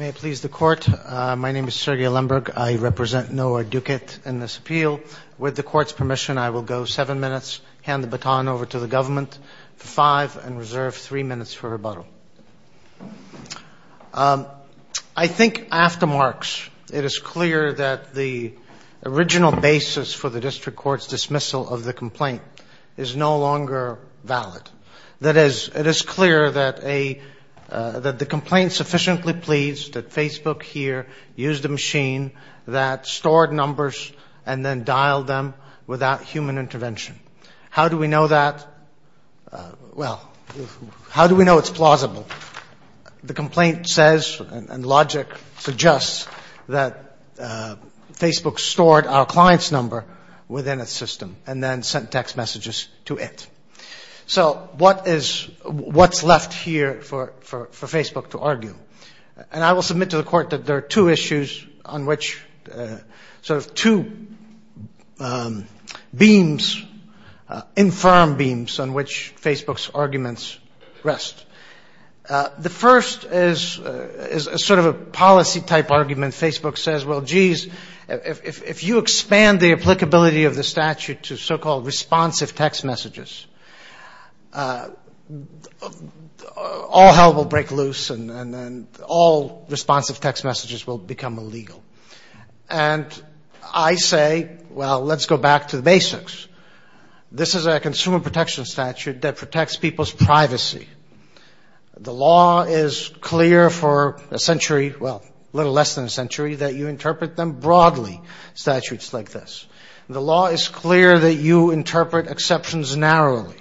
May it please the Court, my name is Sergei Lemberg. I represent Noah Duguid in this appeal. With the Court's permission, I will go seven minutes, hand the baton over to the Government for five, and reserve three minutes for rebuttal. I think after Mark's, it is clear that the original basis for the District Court's dismissal of the complaint is no longer valid. That is, it is clear that the complaint sufficiently pleads that Facebook here used a machine that stored numbers and then dialed them without human intervention. How do we know that? Well, how do we know it's plausible? The complaint says, and logic suggests, that Facebook stored our client's number within its system and then sent text messages to it. So what's left here for Facebook to argue? And I will submit to the Court that there are two issues on which, sort of two beams, infirm beams on which Facebook's arguments rest. The first is sort of a policy-type argument. Facebook says, well, geez, if you expand the applicability of the statute to so-called responsive text messages, all hell will break loose and all responsive text messages will become illegal. And I say, well, let's go back to the basics. This is a consumer protection statute that protects people's privacy. The law is clear for a century, well, a little less than a century, that you interpret them broadly, statutes like this. The law is clear that you interpret exceptions narrowly.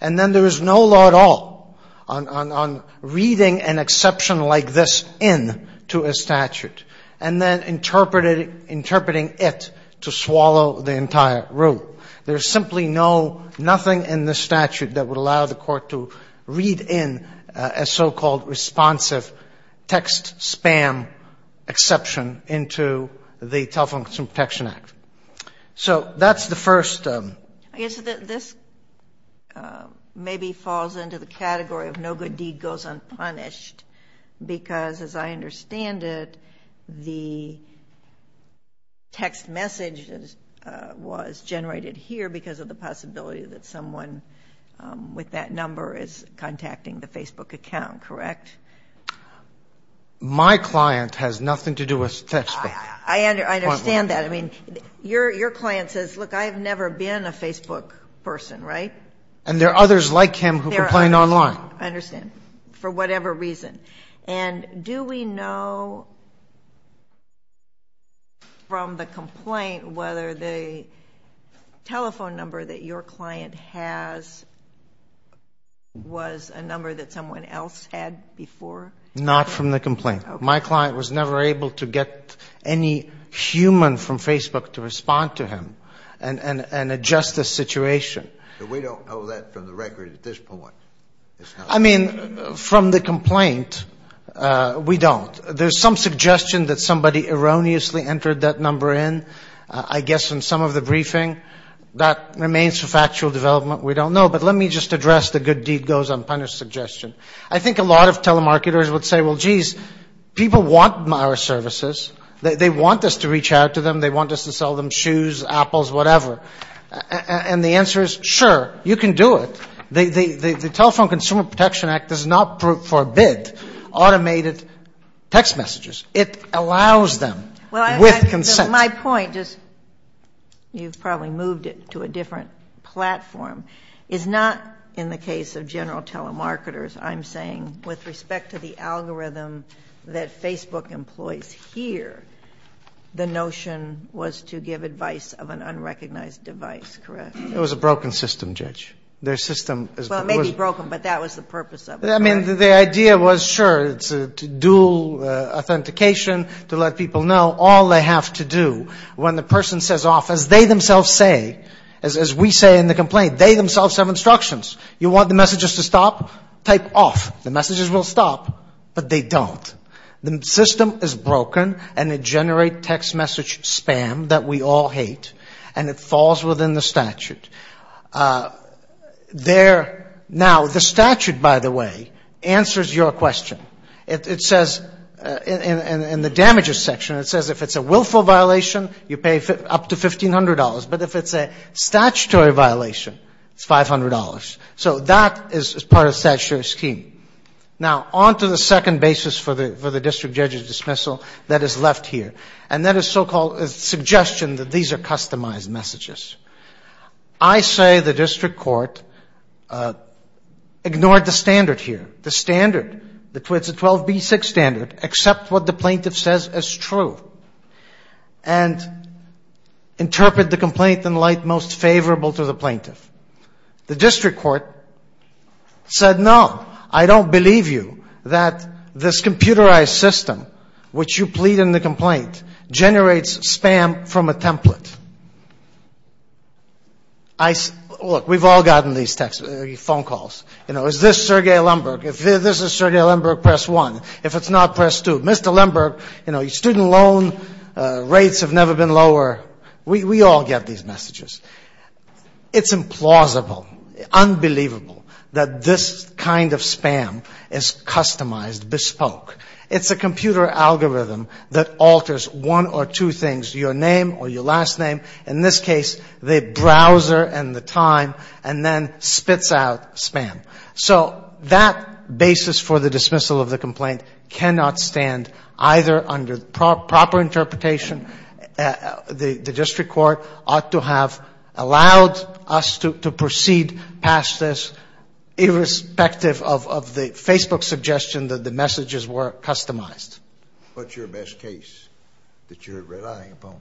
And then there is no law at all on reading an exception like this in to a statute. And then interpreting it to swallow the entire rule. There is simply no, nothing in the statute that would allow the Court to read in a so-called responsive text spam exception into the Telephone Consumer Protection Act. So that's the first. I guess this maybe falls into the category of no good deed goes unpunished. Because as I understand it, the text message was generated here because of the possibility that someone with that number is contacting the Facebook account, correct? My client has nothing to do with Facebook. I understand that. I mean, your client says, look, I've never been a Facebook person, right? And there are others like him who complain online. I understand. For whatever reason. And do we know from the complaint whether the telephone number that your client has was a number that someone else had before? Not from the complaint. My client was never able to get any human from Facebook to respond to him and adjust the situation. But we don't know that from the record at this point. I mean, from the complaint, we don't. There's some suggestion that somebody erroneously entered that number in, I guess, in some of the briefing. That remains for factual development. We don't know. But let me just address the good deed goes unpunished suggestion. I think a lot of telemarketers would say, well, geez, people want our services. They want us to reach out to them. They want us to sell them shoes, apples, whatever. And the answer is, sure, you can do it. The Telephone Consumer Protection Act does not forbid automated text messages. It allows them with consent. My point is, you've probably moved it to a different platform, is not in the case of general telemarketers. I'm saying with respect to the algorithm that Facebook employs here, the notion was to give advice of an unrecognized device, correct? It was a broken system, Judge. Their system is broken, but that was the purpose of it. I mean, the idea was, sure, to do authentication, to let people know all they have to do when the person says off, as they themselves say, as we say in the complaint, they themselves have instructions. You want the messages to stop? Type off. The messages will stop, but they don't. The system is broken, and it generates text message spam that we all hate, and it falls within the statute. Now, the statute, by the way, answers your question. It says, in the damages section, it says if it's a willful violation, you pay up to $1,500. But if it's a statutory violation, it's $500. So that is part of the statutory scheme. Now, on to the second basis for the district judge's dismissal that is left here, and that is so-called suggestion that these are customized messages. I say the district court ignored the standard here. The standard, it's a 12B6 standard, accept what the plaintiff says is true, and interpret the complaint in light most favorable to the plaintiff. The district court said, no, I don't believe you that this computerized system, which you plead in the complaint, generates spam from a template. Look, we've all gotten these phone calls. You know, is this Sergei Lemberg? If this is Sergei Lemberg, press one. If it's not, press two. Mr. Lemberg, you know, your student loan rates have never been lower. We all get these messages. It's implausible, unbelievable that this kind of spam is customized, bespoke. It's a computer algorithm that alters one or two things, your name or your last name. In this case, the browser and the time, and then spits out spam. So that basis for the dismissal of the complaint cannot stand either under proper interpretation, the district court ought to have allowed us to proceed past this, irrespective of the Facebook suggestion that the messages were customized. What's your best case that you're relying upon?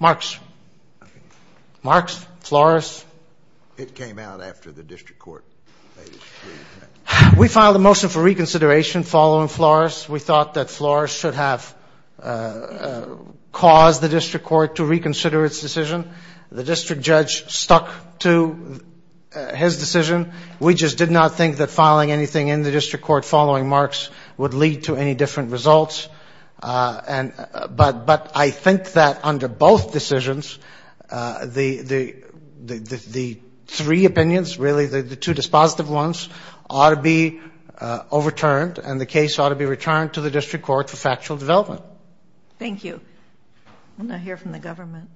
Marks. Marks, Flores. It came out after the district court. We filed a motion for reconsideration following Flores. We thought that Flores should have caused the district court to reconsider its decision. The district judge stuck to his decision. We just did not think that filing anything in the district court following Marks would lead to any different results. But I think that under both decisions, the three opinions, really the two dispositive ones ought to be overturned, and the case ought to be returned to the district court for factual development. Thank you. I'm going to hear from the government.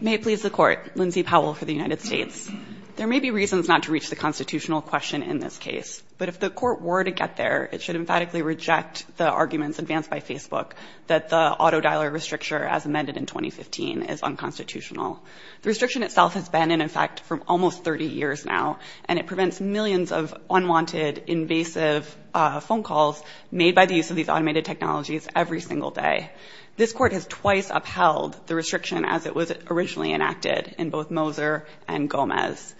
May it please the court. Lindsay Powell for the United States. There may be reasons not to reach the constitutional question in this case, but if the court were to get there, it should emphatically reject the arguments advanced by Facebook that the The restriction itself has been in effect for almost 30 years now, and it prevents millions of unwanted, invasive phone calls made by the use of these automated technologies every single day. This court has twice upheld the restriction as it was originally enacted in both Moser and Gomez.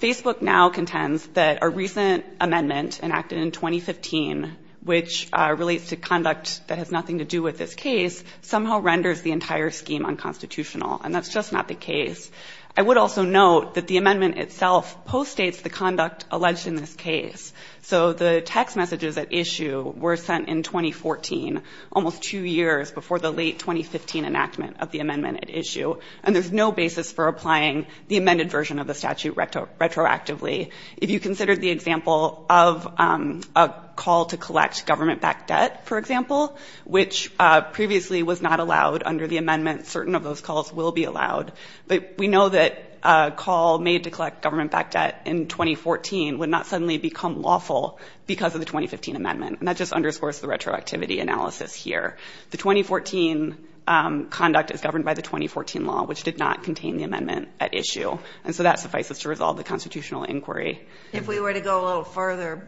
Facebook now contends that a recent amendment enacted in 2015, which relates to conduct that has nothing to do with this case, somehow renders the entire scheme unconstitutional, and that's just not the case. I would also note that the amendment itself postdates the conduct alleged in this case. So the text messages at issue were sent in 2014, almost two years before the late 2015 enactment of the amendment at issue, and there's no basis for applying the amended version of the statute retroactively. If you considered the example of a call to collect government-backed debt, for example, which previously was not allowed under the amendment, certain of those calls will be allowed, but we know that a call made to collect government-backed debt in 2014 would not suddenly become lawful because of the 2015 amendment, and that just underscores the retroactivity analysis here. The 2014 conduct is governed by the 2014 law, which did not contain the amendment at issue, and so that suffices to resolve the constitutional inquiry. If we were to go a little further,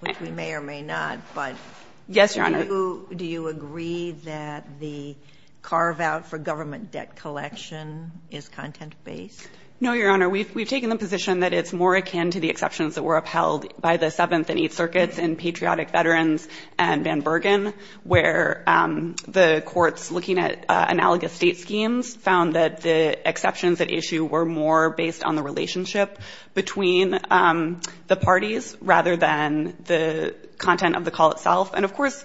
which we may or may not, but do you agree that the carve-out for government debt collection is content-based? No, Your Honor. We've taken the position that it's more akin to the exceptions that were upheld by the Seventh and Eighth Circuits in Patriotic Veterans and Van Bergen, where the courts, looking at analogous state schemes, found that the exceptions at issue were more based on the relationship between the parties rather than the content of the call itself. And, of course,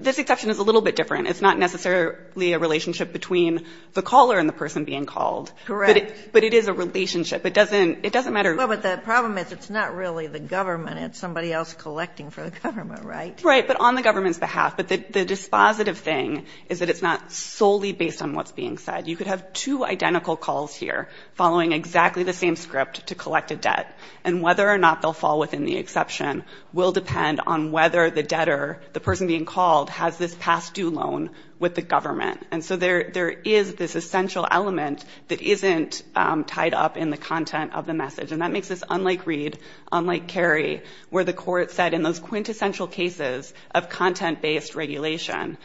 this exception is a little bit different. It's not necessarily a relationship between the caller and the person being called. Correct. But it is a relationship. It doesn't matter. Well, but the problem is it's not really the government. It's somebody else collecting for the government, right? Right, but on the government's behalf. But the dispositive thing is that it's not solely based on what's being said. You could have two identical calls here following exactly the same script to collect a debt, and whether or not they'll fall within the exception will depend on whether the debtor, the person being called, has this past due loan with the government. And so there is this essential element that isn't tied up in the content of the message, and that makes this unlike Reed, unlike Kerry, where the court said in those quintessential cases of content-based regulation,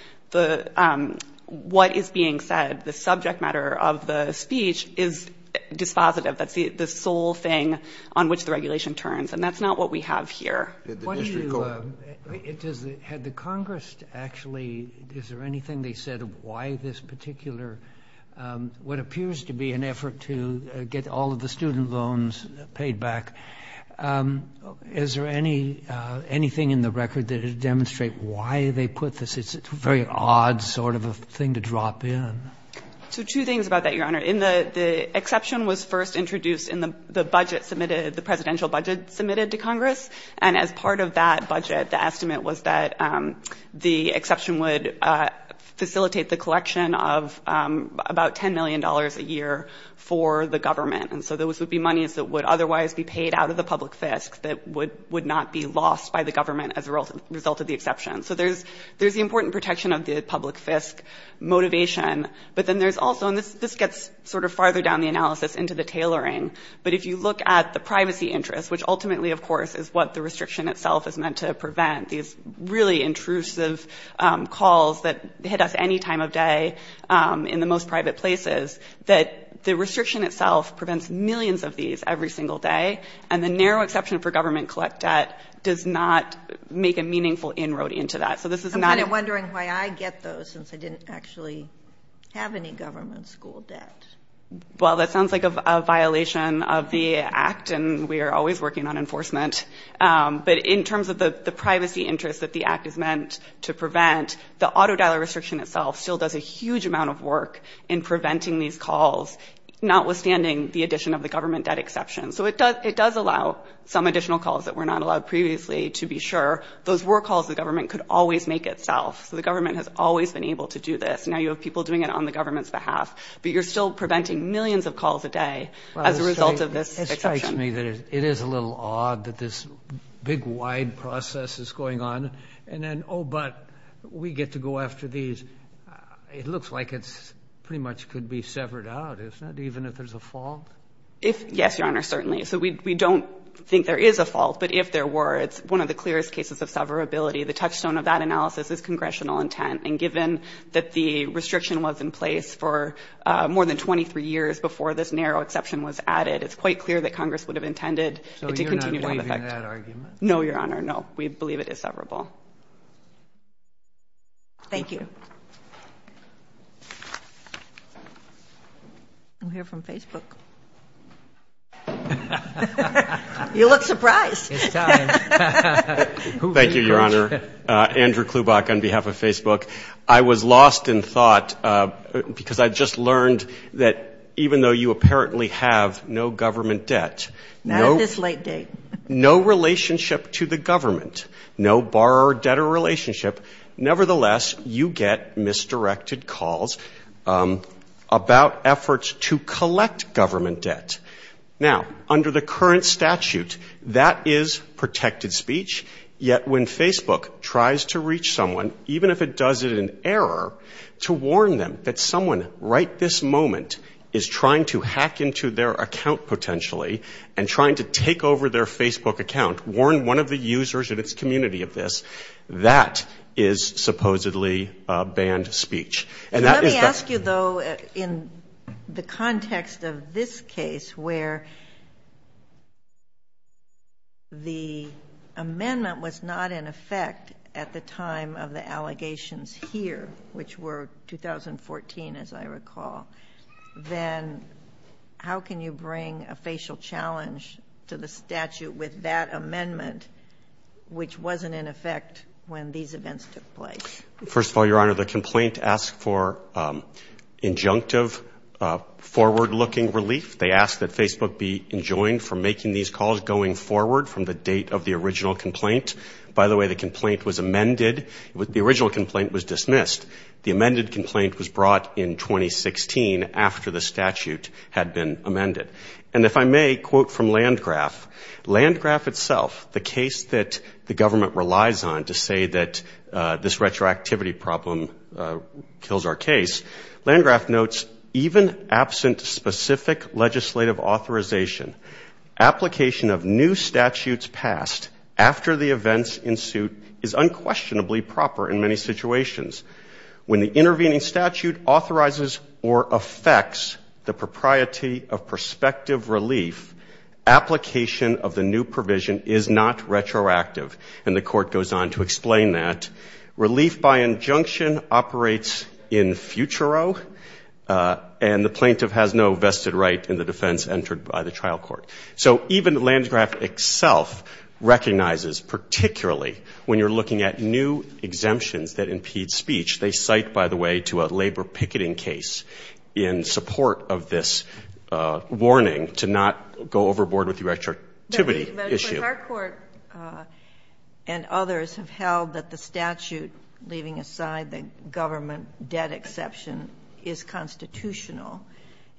what is being said, the subject matter of the speech is dispositive. That's the sole thing on which the regulation turns, and that's not what we have here. Did the district go ahead? Had the Congress actually, is there anything they said of why this particular, what appears to be an effort to get all of the student loans paid back? Is there anything in the record that would demonstrate why they put this? It's a very odd sort of a thing to drop in. So two things about that, Your Honor. The exception was first introduced in the budget submitted, the presidential budget submitted to Congress, and as part of that budget, the estimate was that the exception would facilitate the collection of about $10 million a year for the government. And so those would be monies that would otherwise be paid out of the public fisc that would not be lost by the government as a result of the exception. So there's the important protection of the public fisc motivation, but then there's also, and this gets sort of farther down the analysis into the tailoring, but if you look at the privacy interest, which ultimately, of course, is what the restriction itself is meant to prevent, these really intrusive calls that hit us any time of day in the most private places, that the restriction itself prevents millions of these every single day, and the narrow exception for government collect debt does not make a meaningful inroad into that. So this is not... I'm kind of wondering why I get those, since I didn't actually have any government school debt. Well, that sounds like a violation of the act, and we are always working on enforcement. But in terms of the privacy interest that the act is meant to prevent, the auto dollar restriction itself still does a huge amount of work in preventing these calls, notwithstanding the addition of the government debt exception. So it does allow some additional calls that were not allowed previously to be sure. Those were calls the government could always make itself, so the government has always been able to do this. Now you have people doing it on the government's behalf, but you're still preventing millions of calls a day as a result of this exception. It strikes me that it is a little odd that this big wide process is going on, and then, oh, but we get to go after these. It looks like it pretty much could be severed out, isn't it, even if there's a fault? Yes, Your Honor, certainly. So we don't think there is a fault, but if there were, it's one of the clearest cases of severability. The touchstone of that analysis is congressional intent, and given that the restriction was in place for more than 23 years before this narrow exception was added, it's quite clear that Congress would have intended it to continue to have effect. So you're not believing that argument? No, Your Honor, no. We believe it is severable. Thank you. I'm here from Facebook. You look surprised. It's time. Thank you, Your Honor. Andrew Klubach on behalf of Facebook. I was lost in thought because I just learned that even though you apparently have no government debt, no relationship to the government, no borrower-debtor relationship, nevertheless, you get misdirected calls about efforts to collect government debt. Now, under the current statute, that is protected speech, yet when Facebook tries to reach someone, even if it does it in error, to warn them that someone right this moment is trying to take over their Facebook account, warn one of the users in its community of this, that is supposedly banned speech. Let me ask you, though, in the context of this case where the amendment was not in effect at the time of the allegations here, which were 2014, as I recall, then how can you bring a facial challenge to the statute with that amendment, which wasn't in effect when these events took place? First of all, Your Honor, the complaint asks for injunctive, forward-looking relief. They ask that Facebook be enjoined from making these calls going forward from the date of the original complaint. By the way, the complaint was amended. The original complaint was dismissed. The amended complaint was brought in 2016 after the statute had been amended. And if I may quote from Landgraf, Landgraf itself, the case that the government relies on to say that this retroactivity problem kills our case, Landgraf notes, even absent specific legislative authorization, application of new statutes passed after the events ensue is unquestionably proper in many situations. When the intervening statute authorizes or affects the propriety of prospective relief, application of the new provision is not retroactive. And the Court goes on to explain that. Relief by injunction operates in futuro, and the plaintiff has no vested right in the defense entered by the trial court. So even Landgraf itself recognizes, particularly when you're looking at new exemptions that impede speech, they cite, by the way, to a labor picketing case in support of this warning to not go overboard with the retroactivity issue. But our court and others have held that the statute, leaving aside the government debt exception, is constitutional.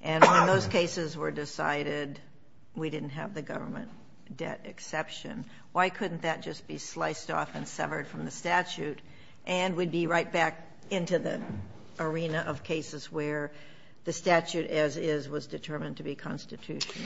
And when those cases were decided, we didn't have the government debt exception. Why couldn't that just be sliced off and severed from the statute, and we'd be right back into the arena of cases where the statute as is was determined to be constitutional?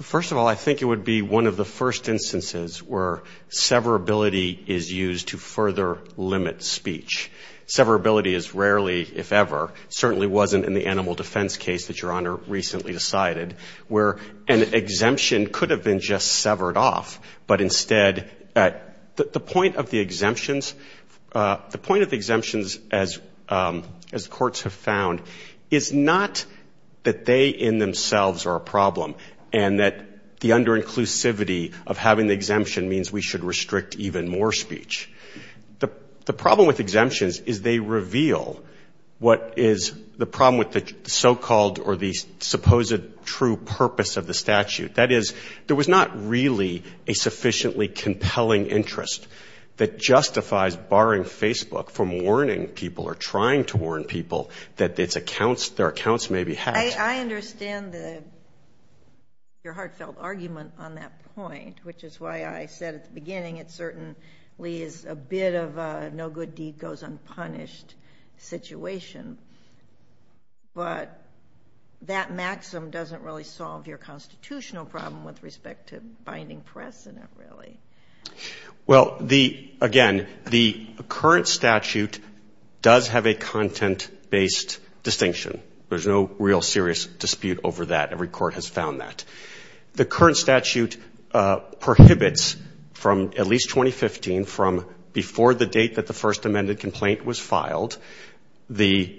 First of all, I think it would be one of the first instances where severability is used to further limit speech. Severability is rarely, if ever, certainly wasn't in the animal defense case that Your Honor recently decided, where an exemption could have been just severed off. But instead, the point of the exemptions, as courts have found, is not that they in themselves are a problem, and that the under-inclusivity of having the exemption means we should restrict even more speech. The problem with exemptions is they reveal what is the problem with the so-called or the supposed true purpose of the statute. That is, there was not really a sufficiently compelling interest that justifies barring Facebook from warning people or trying to warn people that their accounts may be hacked. I understand your heartfelt argument on that point, which is why I said at the beginning it certainly is a bit of a no-good-deed-goes-unpunished situation, but that maxim doesn't really solve your constitutional problem with respect to binding press in it, really. Well, again, the current statute does have a content-based distinction. There's no real serious dispute over that. Every court has found that. The current statute prohibits from at least 2015, from before the date that the first amended complaint was filed, the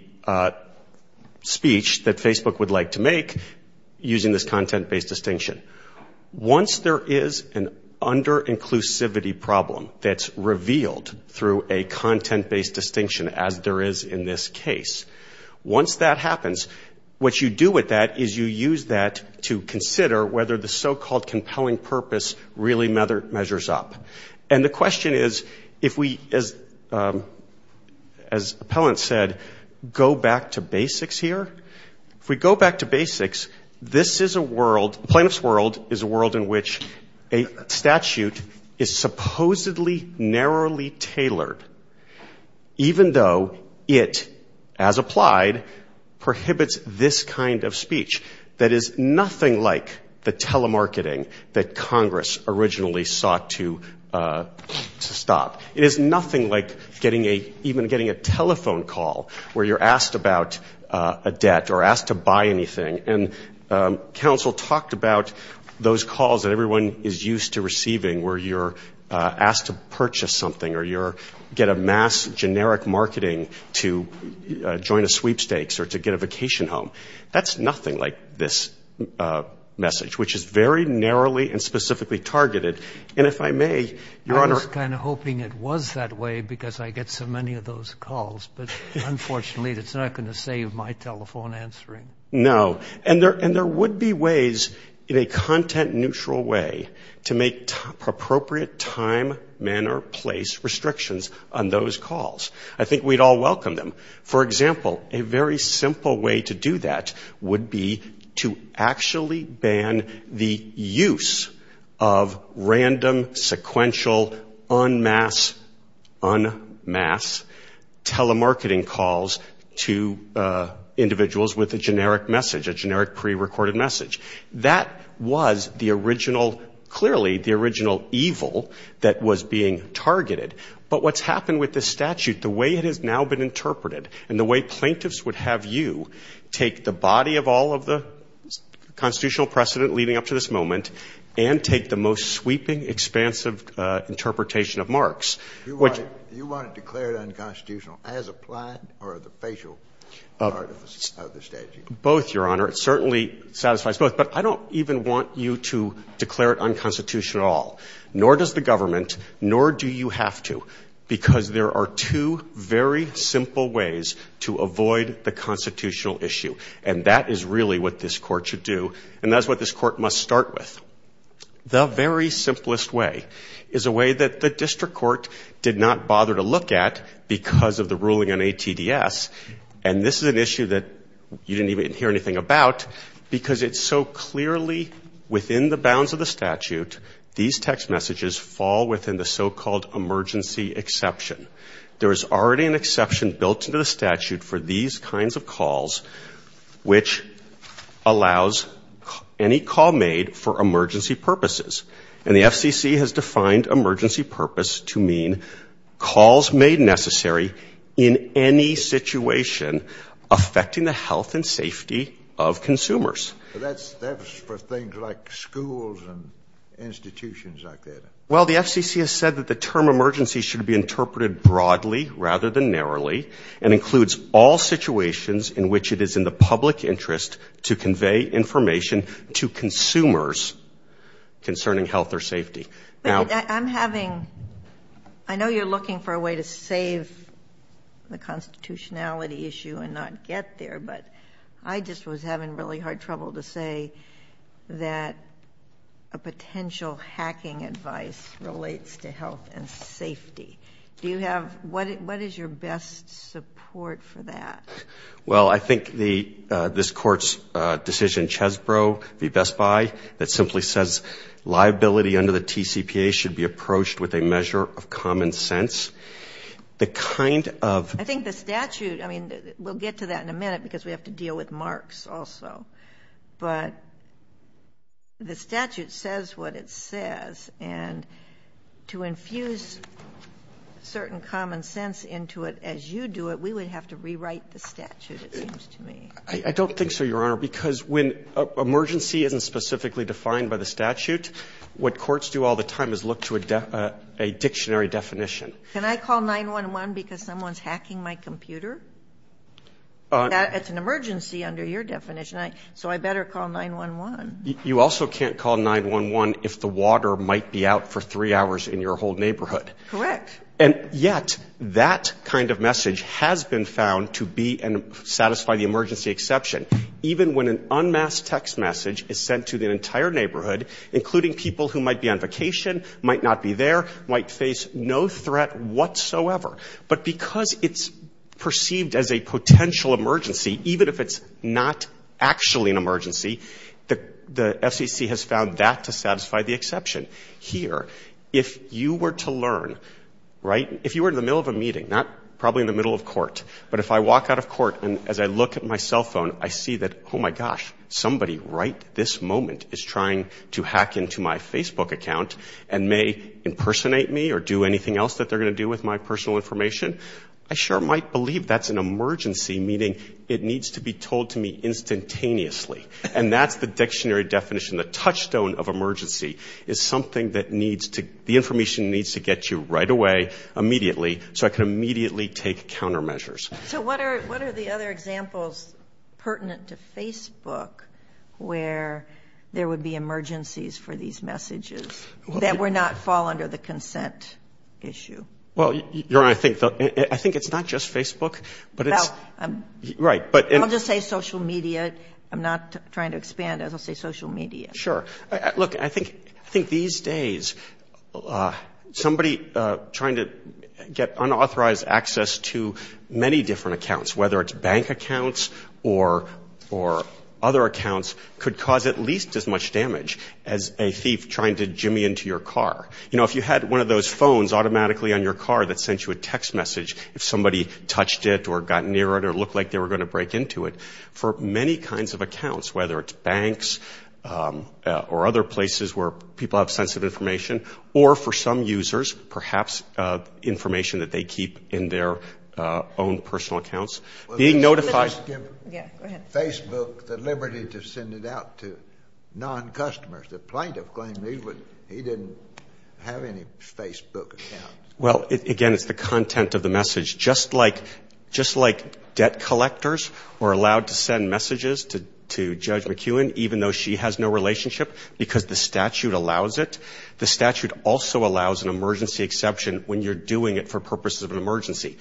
speech that Facebook would like to make using this content-based distinction. Once there is an under-inclusivity problem that's revealed through a content-based distinction, as there is in this case, once that happens, what you do with that is you use that to consider whether the so-called compelling purpose really measures up. And the question is, if we, as Appellant said, go back to basics here, if we go back to basics, this is a world, the plaintiff's world, is a world in which a statute is supposedly narrowly even though it, as applied, prohibits this kind of speech that is nothing like the telemarketing that Congress originally sought to stop. It is nothing like even getting a telephone call where you're asked about a debt or asked to buy anything. And counsel talked about those calls that everyone is used to receiving where you're asked to purchase something or you're, get a mass generic marketing to join a sweepstakes or to get a vacation home. That's nothing like this message, which is very narrowly and specifically targeted. And if I may, Your Honor. I was kind of hoping it was that way because I get so many of those calls, but unfortunately it's not going to save my telephone answering. No. No. And there would be ways in a content neutral way to make appropriate time, manner, place restrictions on those calls. I think we'd all welcome them. For example, a very simple way to do that would be to actually ban the use of random generic pre-recorded message. That was the original, clearly the original evil that was being targeted. But what's happened with this statute, the way it has now been interpreted and the way plaintiffs would have you take the body of all of the constitutional precedent leading up to this moment and take the most sweeping, expansive interpretation of Marx, which You want it declared unconstitutional as applied or the facial part of the statute? Both, Your Honor. It certainly satisfies both. But I don't even want you to declare it unconstitutional at all, nor does the government, nor do you have to, because there are two very simple ways to avoid the constitutional issue. And that is really what this court should do. And that's what this court must start with. The very simplest way is a way that the district court did not bother to look at because of the ruling on ATDS. And this is an issue that you didn't even hear anything about because it's so clearly within the bounds of the statute, these text messages fall within the so-called emergency exception. There is already an exception built into the statute for these kinds of calls, which allows any call made for emergency purposes. And the FCC has defined emergency purpose to mean calls made necessary in any situation affecting the health and safety of consumers. But that's for things like schools and institutions like that. Well, the FCC has said that the term emergency should be interpreted broadly rather than narrowly and includes all situations in which it is in the public interest to convey information to consumers concerning health or safety. But I'm having, I know you're looking for a way to save the constitutionality issue and not get there, but I just was having really hard trouble to say that a potential hacking advice relates to health and safety. Do you have, what is your best support for that? Well, I think this court's decision, Chesbrough v. Best Buy, that simply says liability under the TCPA should be approached with a measure of common sense. The kind of- I think the statute, I mean, we'll get to that in a minute because we have to deal with marks also. But the statute says what it says and to infuse certain common sense into it as you do it, we would have to rewrite the statute, it seems to me. I don't think so, Your Honor, because when emergency isn't specifically defined by the statute, what courts do all the time is look to a dictionary definition. Can I call 911 because someone's hacking my computer? It's an emergency under your definition, so I better call 911. You also can't call 911 if the water might be out for three hours in your whole neighborhood. Correct. And yet, that kind of message has been found to be and satisfy the emergency exception. Even when an unmasked text message is sent to the entire neighborhood, including people who might be on vacation, might not be there, might face no threat whatsoever. But because it's perceived as a potential emergency, even if it's not actually an emergency, the FCC has found that to satisfy the exception. Here, if you were to learn, right, if you were in the middle of a meeting, not probably in the middle of court, but if I walk out of court and as I look at my cell phone, I see that, oh my gosh, somebody right this moment is trying to hack into my Facebook account and may impersonate me or do anything else that they're going to do with my personal information, I sure might believe that's an emergency, meaning it needs to be told to me instantaneously. And that's the dictionary definition. The touchstone of emergency is something that needs to, the information needs to get you right away, immediately, so I can immediately take countermeasures. So what are the other examples pertinent to Facebook where there would be emergencies for these messages that would not fall under the consent issue? Well, Your Honor, I think it's not just Facebook, but it's, right, but. I'll just say social media. I'm not trying to expand, I'll just say social media. Sure. Look, I think these days somebody trying to get unauthorized access to many different accounts, whether it's bank accounts or other accounts, could cause at least as much damage as a thief trying to jimmy into your car. You know, if you had one of those phones automatically on your car that sent you a text message, if somebody touched it or got near it or looked like they were going to break into it, for many kinds of accounts, whether it's banks or other places where people have sensitive information, or for some users, perhaps information that they keep in their own personal accounts, being notified. Yeah, go ahead. Facebook, the liberty to send it out to non-customers, the plaintiff claimed he didn't have any Facebook account. Well, again, it's the content of the message. Just like debt collectors are allowed to send messages to Judge McEwen, even though she has no relationship, because the statute allows it, the statute also allows an emergency exception when you're doing it for purposes of an emergency.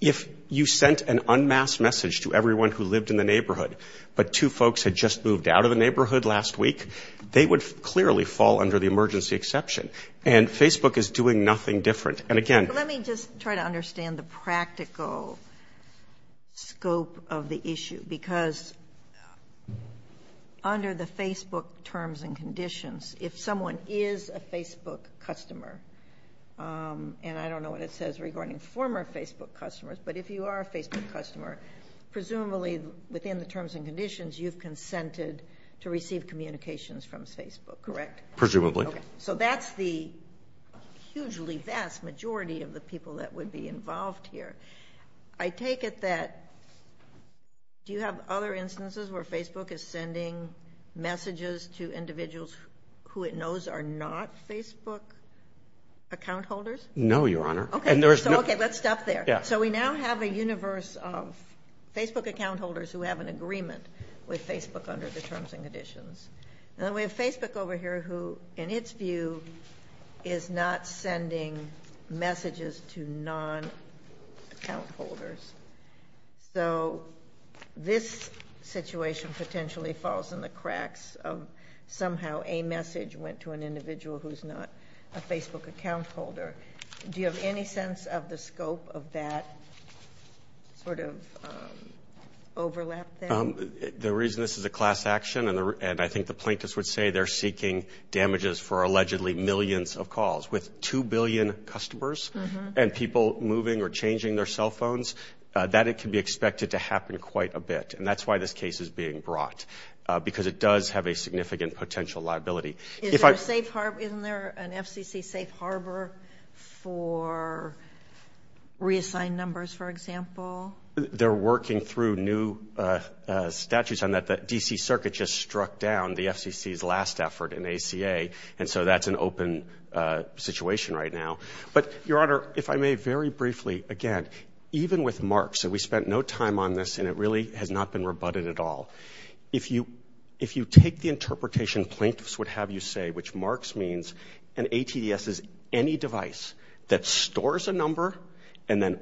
If you sent an unmasked message to everyone who lived in the neighborhood, but two folks had just moved out of the neighborhood last week, they would clearly fall under the emergency exception. And Facebook is doing nothing different. And again... Let me just try to understand the practical scope of the issue, because under the Facebook terms and conditions, if someone is a Facebook customer, and I don't know what it says regarding former Facebook customers, but if you are a Facebook customer, presumably within the terms and conditions, you've consented to receive communications from Facebook, correct? Presumably. Okay. So that's the hugely vast majority of the people that would be involved here. I take it that... Do you have other instances where Facebook is sending messages to individuals who it knows are not Facebook account holders? No, Your Honor. Okay. So let's stop there. So we now have a universe of Facebook account holders who have an agreement with Facebook under the terms and conditions. And then we have Facebook over here who, in its view, is not sending messages to non-account holders. So this situation potentially falls in the cracks of somehow a message went to an individual who's not a Facebook account holder. Do you have any sense of the scope of that sort of overlap there? The reason this is a class action, and I think the plaintiffs would say they're seeking damages for allegedly millions of calls, with two billion customers and people moving or changing their cell phones, that it can be expected to happen quite a bit. And that's why this case is being brought, because it does have a significant potential liability. Is there a safe harbor? Isn't there an FCC safe harbor for reassigned numbers, for example? They're working through new statutes on that. The D.C. Circuit just struck down the FCC's last effort in ACA. And so that's an open situation right now. But Your Honor, if I may very briefly, again, even with marks, and we spent no time on this and it really has not been rebutted at all, if you take the interpretation plaintiffs would have you say, which marks means an ATS is any device that stores a number and then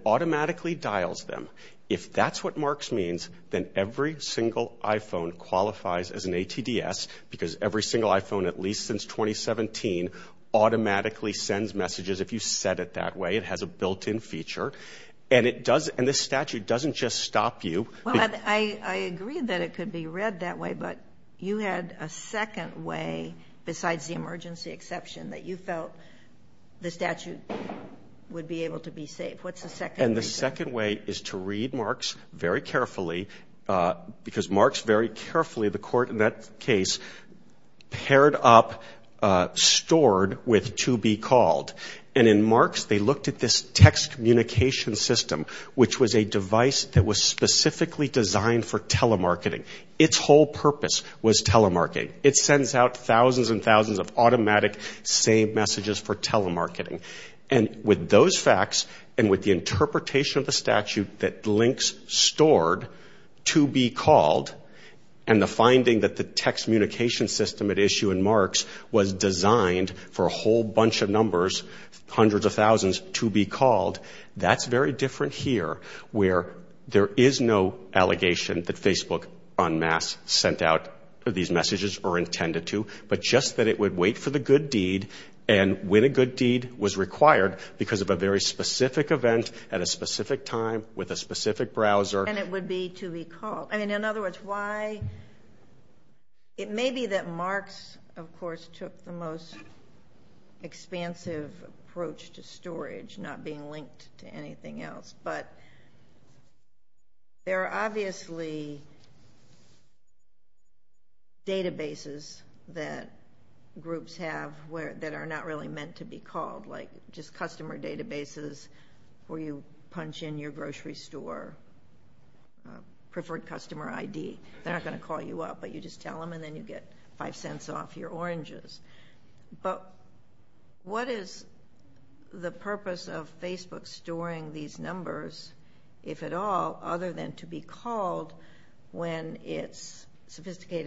If that's what marks means, then every single iPhone qualifies as an ATDS, because every single iPhone, at least since 2017, automatically sends messages if you set it that way. It has a built-in feature. And it does, and this statute doesn't just stop you. I agree that it could be read that way, but you had a second way besides the emergency exception that you felt the statute would be able to be safe. What's the second reason? The second way is to read marks very carefully, because marks very carefully, the court in that case, paired up stored with to be called. And in marks, they looked at this text communication system, which was a device that was specifically designed for telemarketing. Its whole purpose was telemarketing. It sends out thousands and thousands of automatic saved messages for telemarketing. And with those facts, and with the interpretation of the statute that links stored to be called, and the finding that the text communication system at issue in marks was designed for a whole bunch of numbers, hundreds of thousands, to be called. That's very different here, where there is no allegation that Facebook en masse sent out these messages or intended to, but just that it would wait for the good deed and when the good deed was required because of a very specific event at a specific time with a specific browser. And it would be to be called. I mean, in other words, why? It may be that marks, of course, took the most expansive approach to storage, not being linked to anything else, but there are obviously databases that groups have that are not really meant to be called, like just customer databases where you punch in your grocery store, preferred customer ID. They're not going to call you up, but you just tell them and then you get five cents off your oranges. But what is the purpose of Facebook storing these numbers, if at all, other than to be It's pled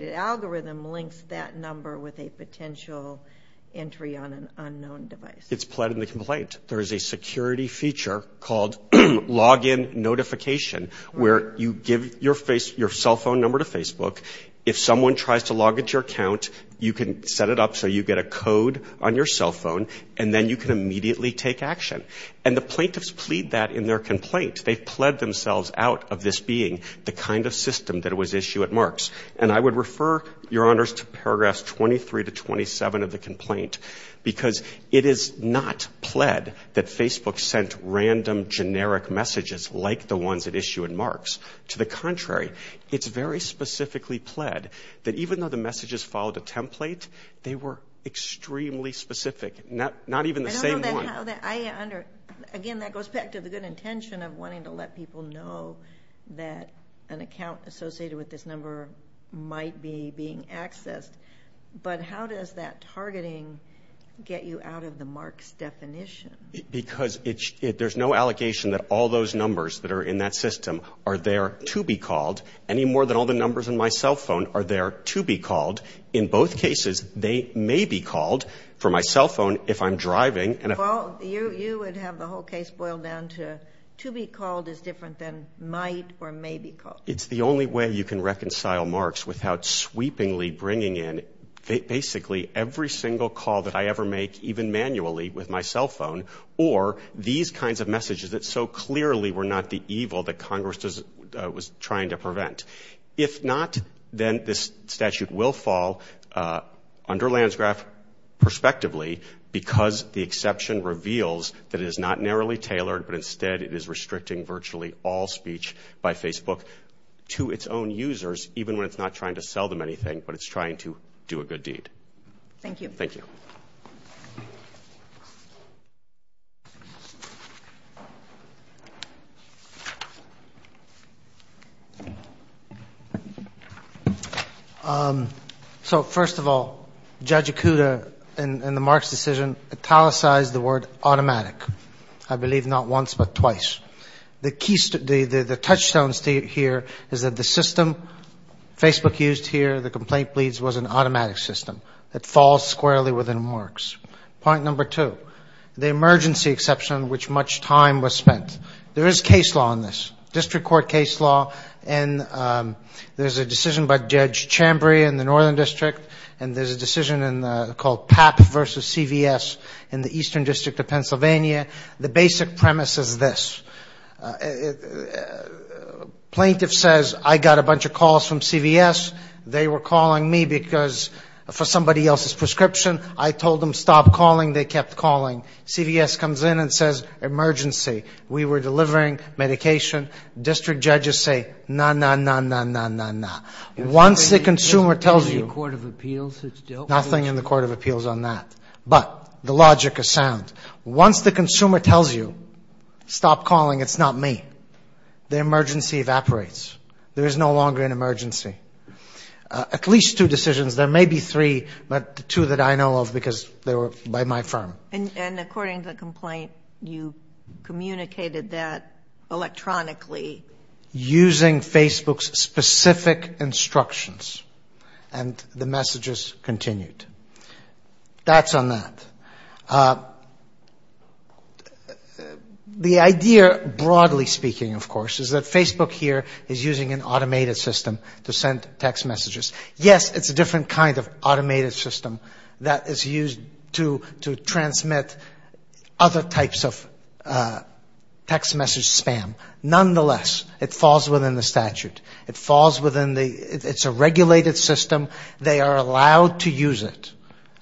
in the complaint. There is a security feature called login notification where you give your cell phone number to Facebook. If someone tries to log into your account, you can set it up so you get a code on your cell phone and then you can immediately take action. And the plaintiffs plead that in their complaint. They've pled themselves out of this being the kind of system that was issued at marks. And I would refer your honors to paragraphs 23 to 27 of the complaint, because it is not pled that Facebook sent random generic messages like the ones that issue in marks. To the contrary, it's very specifically pled that even though the messages followed a template, they were extremely specific, not even the same one. Again, that goes back to the good intention of wanting to let people know that an account associated with this number might be being accessed. But how does that targeting get you out of the marks definition? Because there's no allegation that all those numbers that are in that system are there to be called any more than all the numbers in my cell phone are there to be called. In both cases, they may be called for my cell phone if I'm driving. And if you would have the whole case boiled down to to be called is different than might or may be called. It's the only way you can reconcile marks without sweepingly bringing in basically every single call that I ever make, even manually with my cell phone, or these kinds of messages that so clearly were not the evil that Congress was trying to prevent. If not, then this statute will fall under lands graph prospectively because the exception reveals that it is not narrowly tailored, but instead it is restricting virtually all to its own users, even when it's not trying to sell them anything, but it's trying to do a good deed. Thank you. Thank you. So first of all, Judge Ikuda in the Marks decision italicized the word automatic. I believe not once, but twice. The touchstone here is that the system Facebook used here, the complaint pleads, was an automatic system that falls squarely within Marks. Point number two, the emergency exception on which much time was spent. There is case law on this, district court case law, and there's a decision by Judge Chambray in the Northern District, and there's a decision called PAP versus CVS in the Eastern District of Pennsylvania. The basic premise is this. Plaintiff says, I got a bunch of calls from CVS. They were calling me because for somebody else's prescription, I told them, stop calling. They kept calling. CVS comes in and says, emergency. We were delivering medication. District judges say, no, no, no, no, no, no, no. Once the consumer tells you, nothing in the court of appeals on that. But the logic is sound. Once the consumer tells you, stop calling, it's not me. The emergency evaporates. There is no longer an emergency. At least two decisions, there may be three, but the two that I know of because they were by my firm. And according to the complaint, you communicated that electronically. Using Facebook's specific instructions, and the messages continued. That's on that. The idea, broadly speaking, of course, is that Facebook here is using an automated system to send text messages. Yes, it's a different kind of automated system that is used to transmit other types of text message spam. Nonetheless, it falls within the statute. It falls within the, it's a regulated system. They are allowed to use it.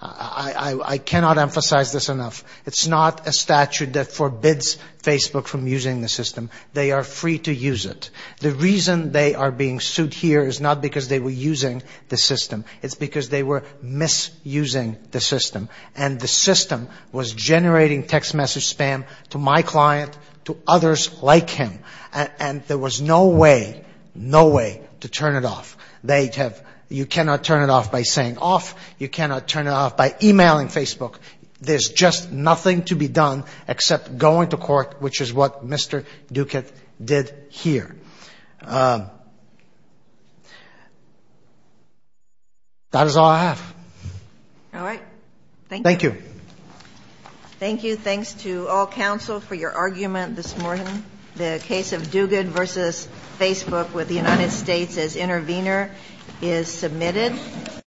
I cannot emphasize this enough. It's not a statute that forbids Facebook from using the system. They are free to use it. The reason they are being sued here is not because they were using the system. It's because they were misusing the system. And the system was generating text message spam to my client, to others like him. And there was no way, no way to turn it off. They have, you cannot turn it off by saying off. You cannot turn it off by emailing Facebook. There's just nothing to be done except going to court, which is what Mr. Duguid did here. That is all I have. All right. Thank you. Thank you. Thank you. Thanks to all counsel for your argument this morning. The case of Duguid versus Facebook with the United States as intervener is submitted.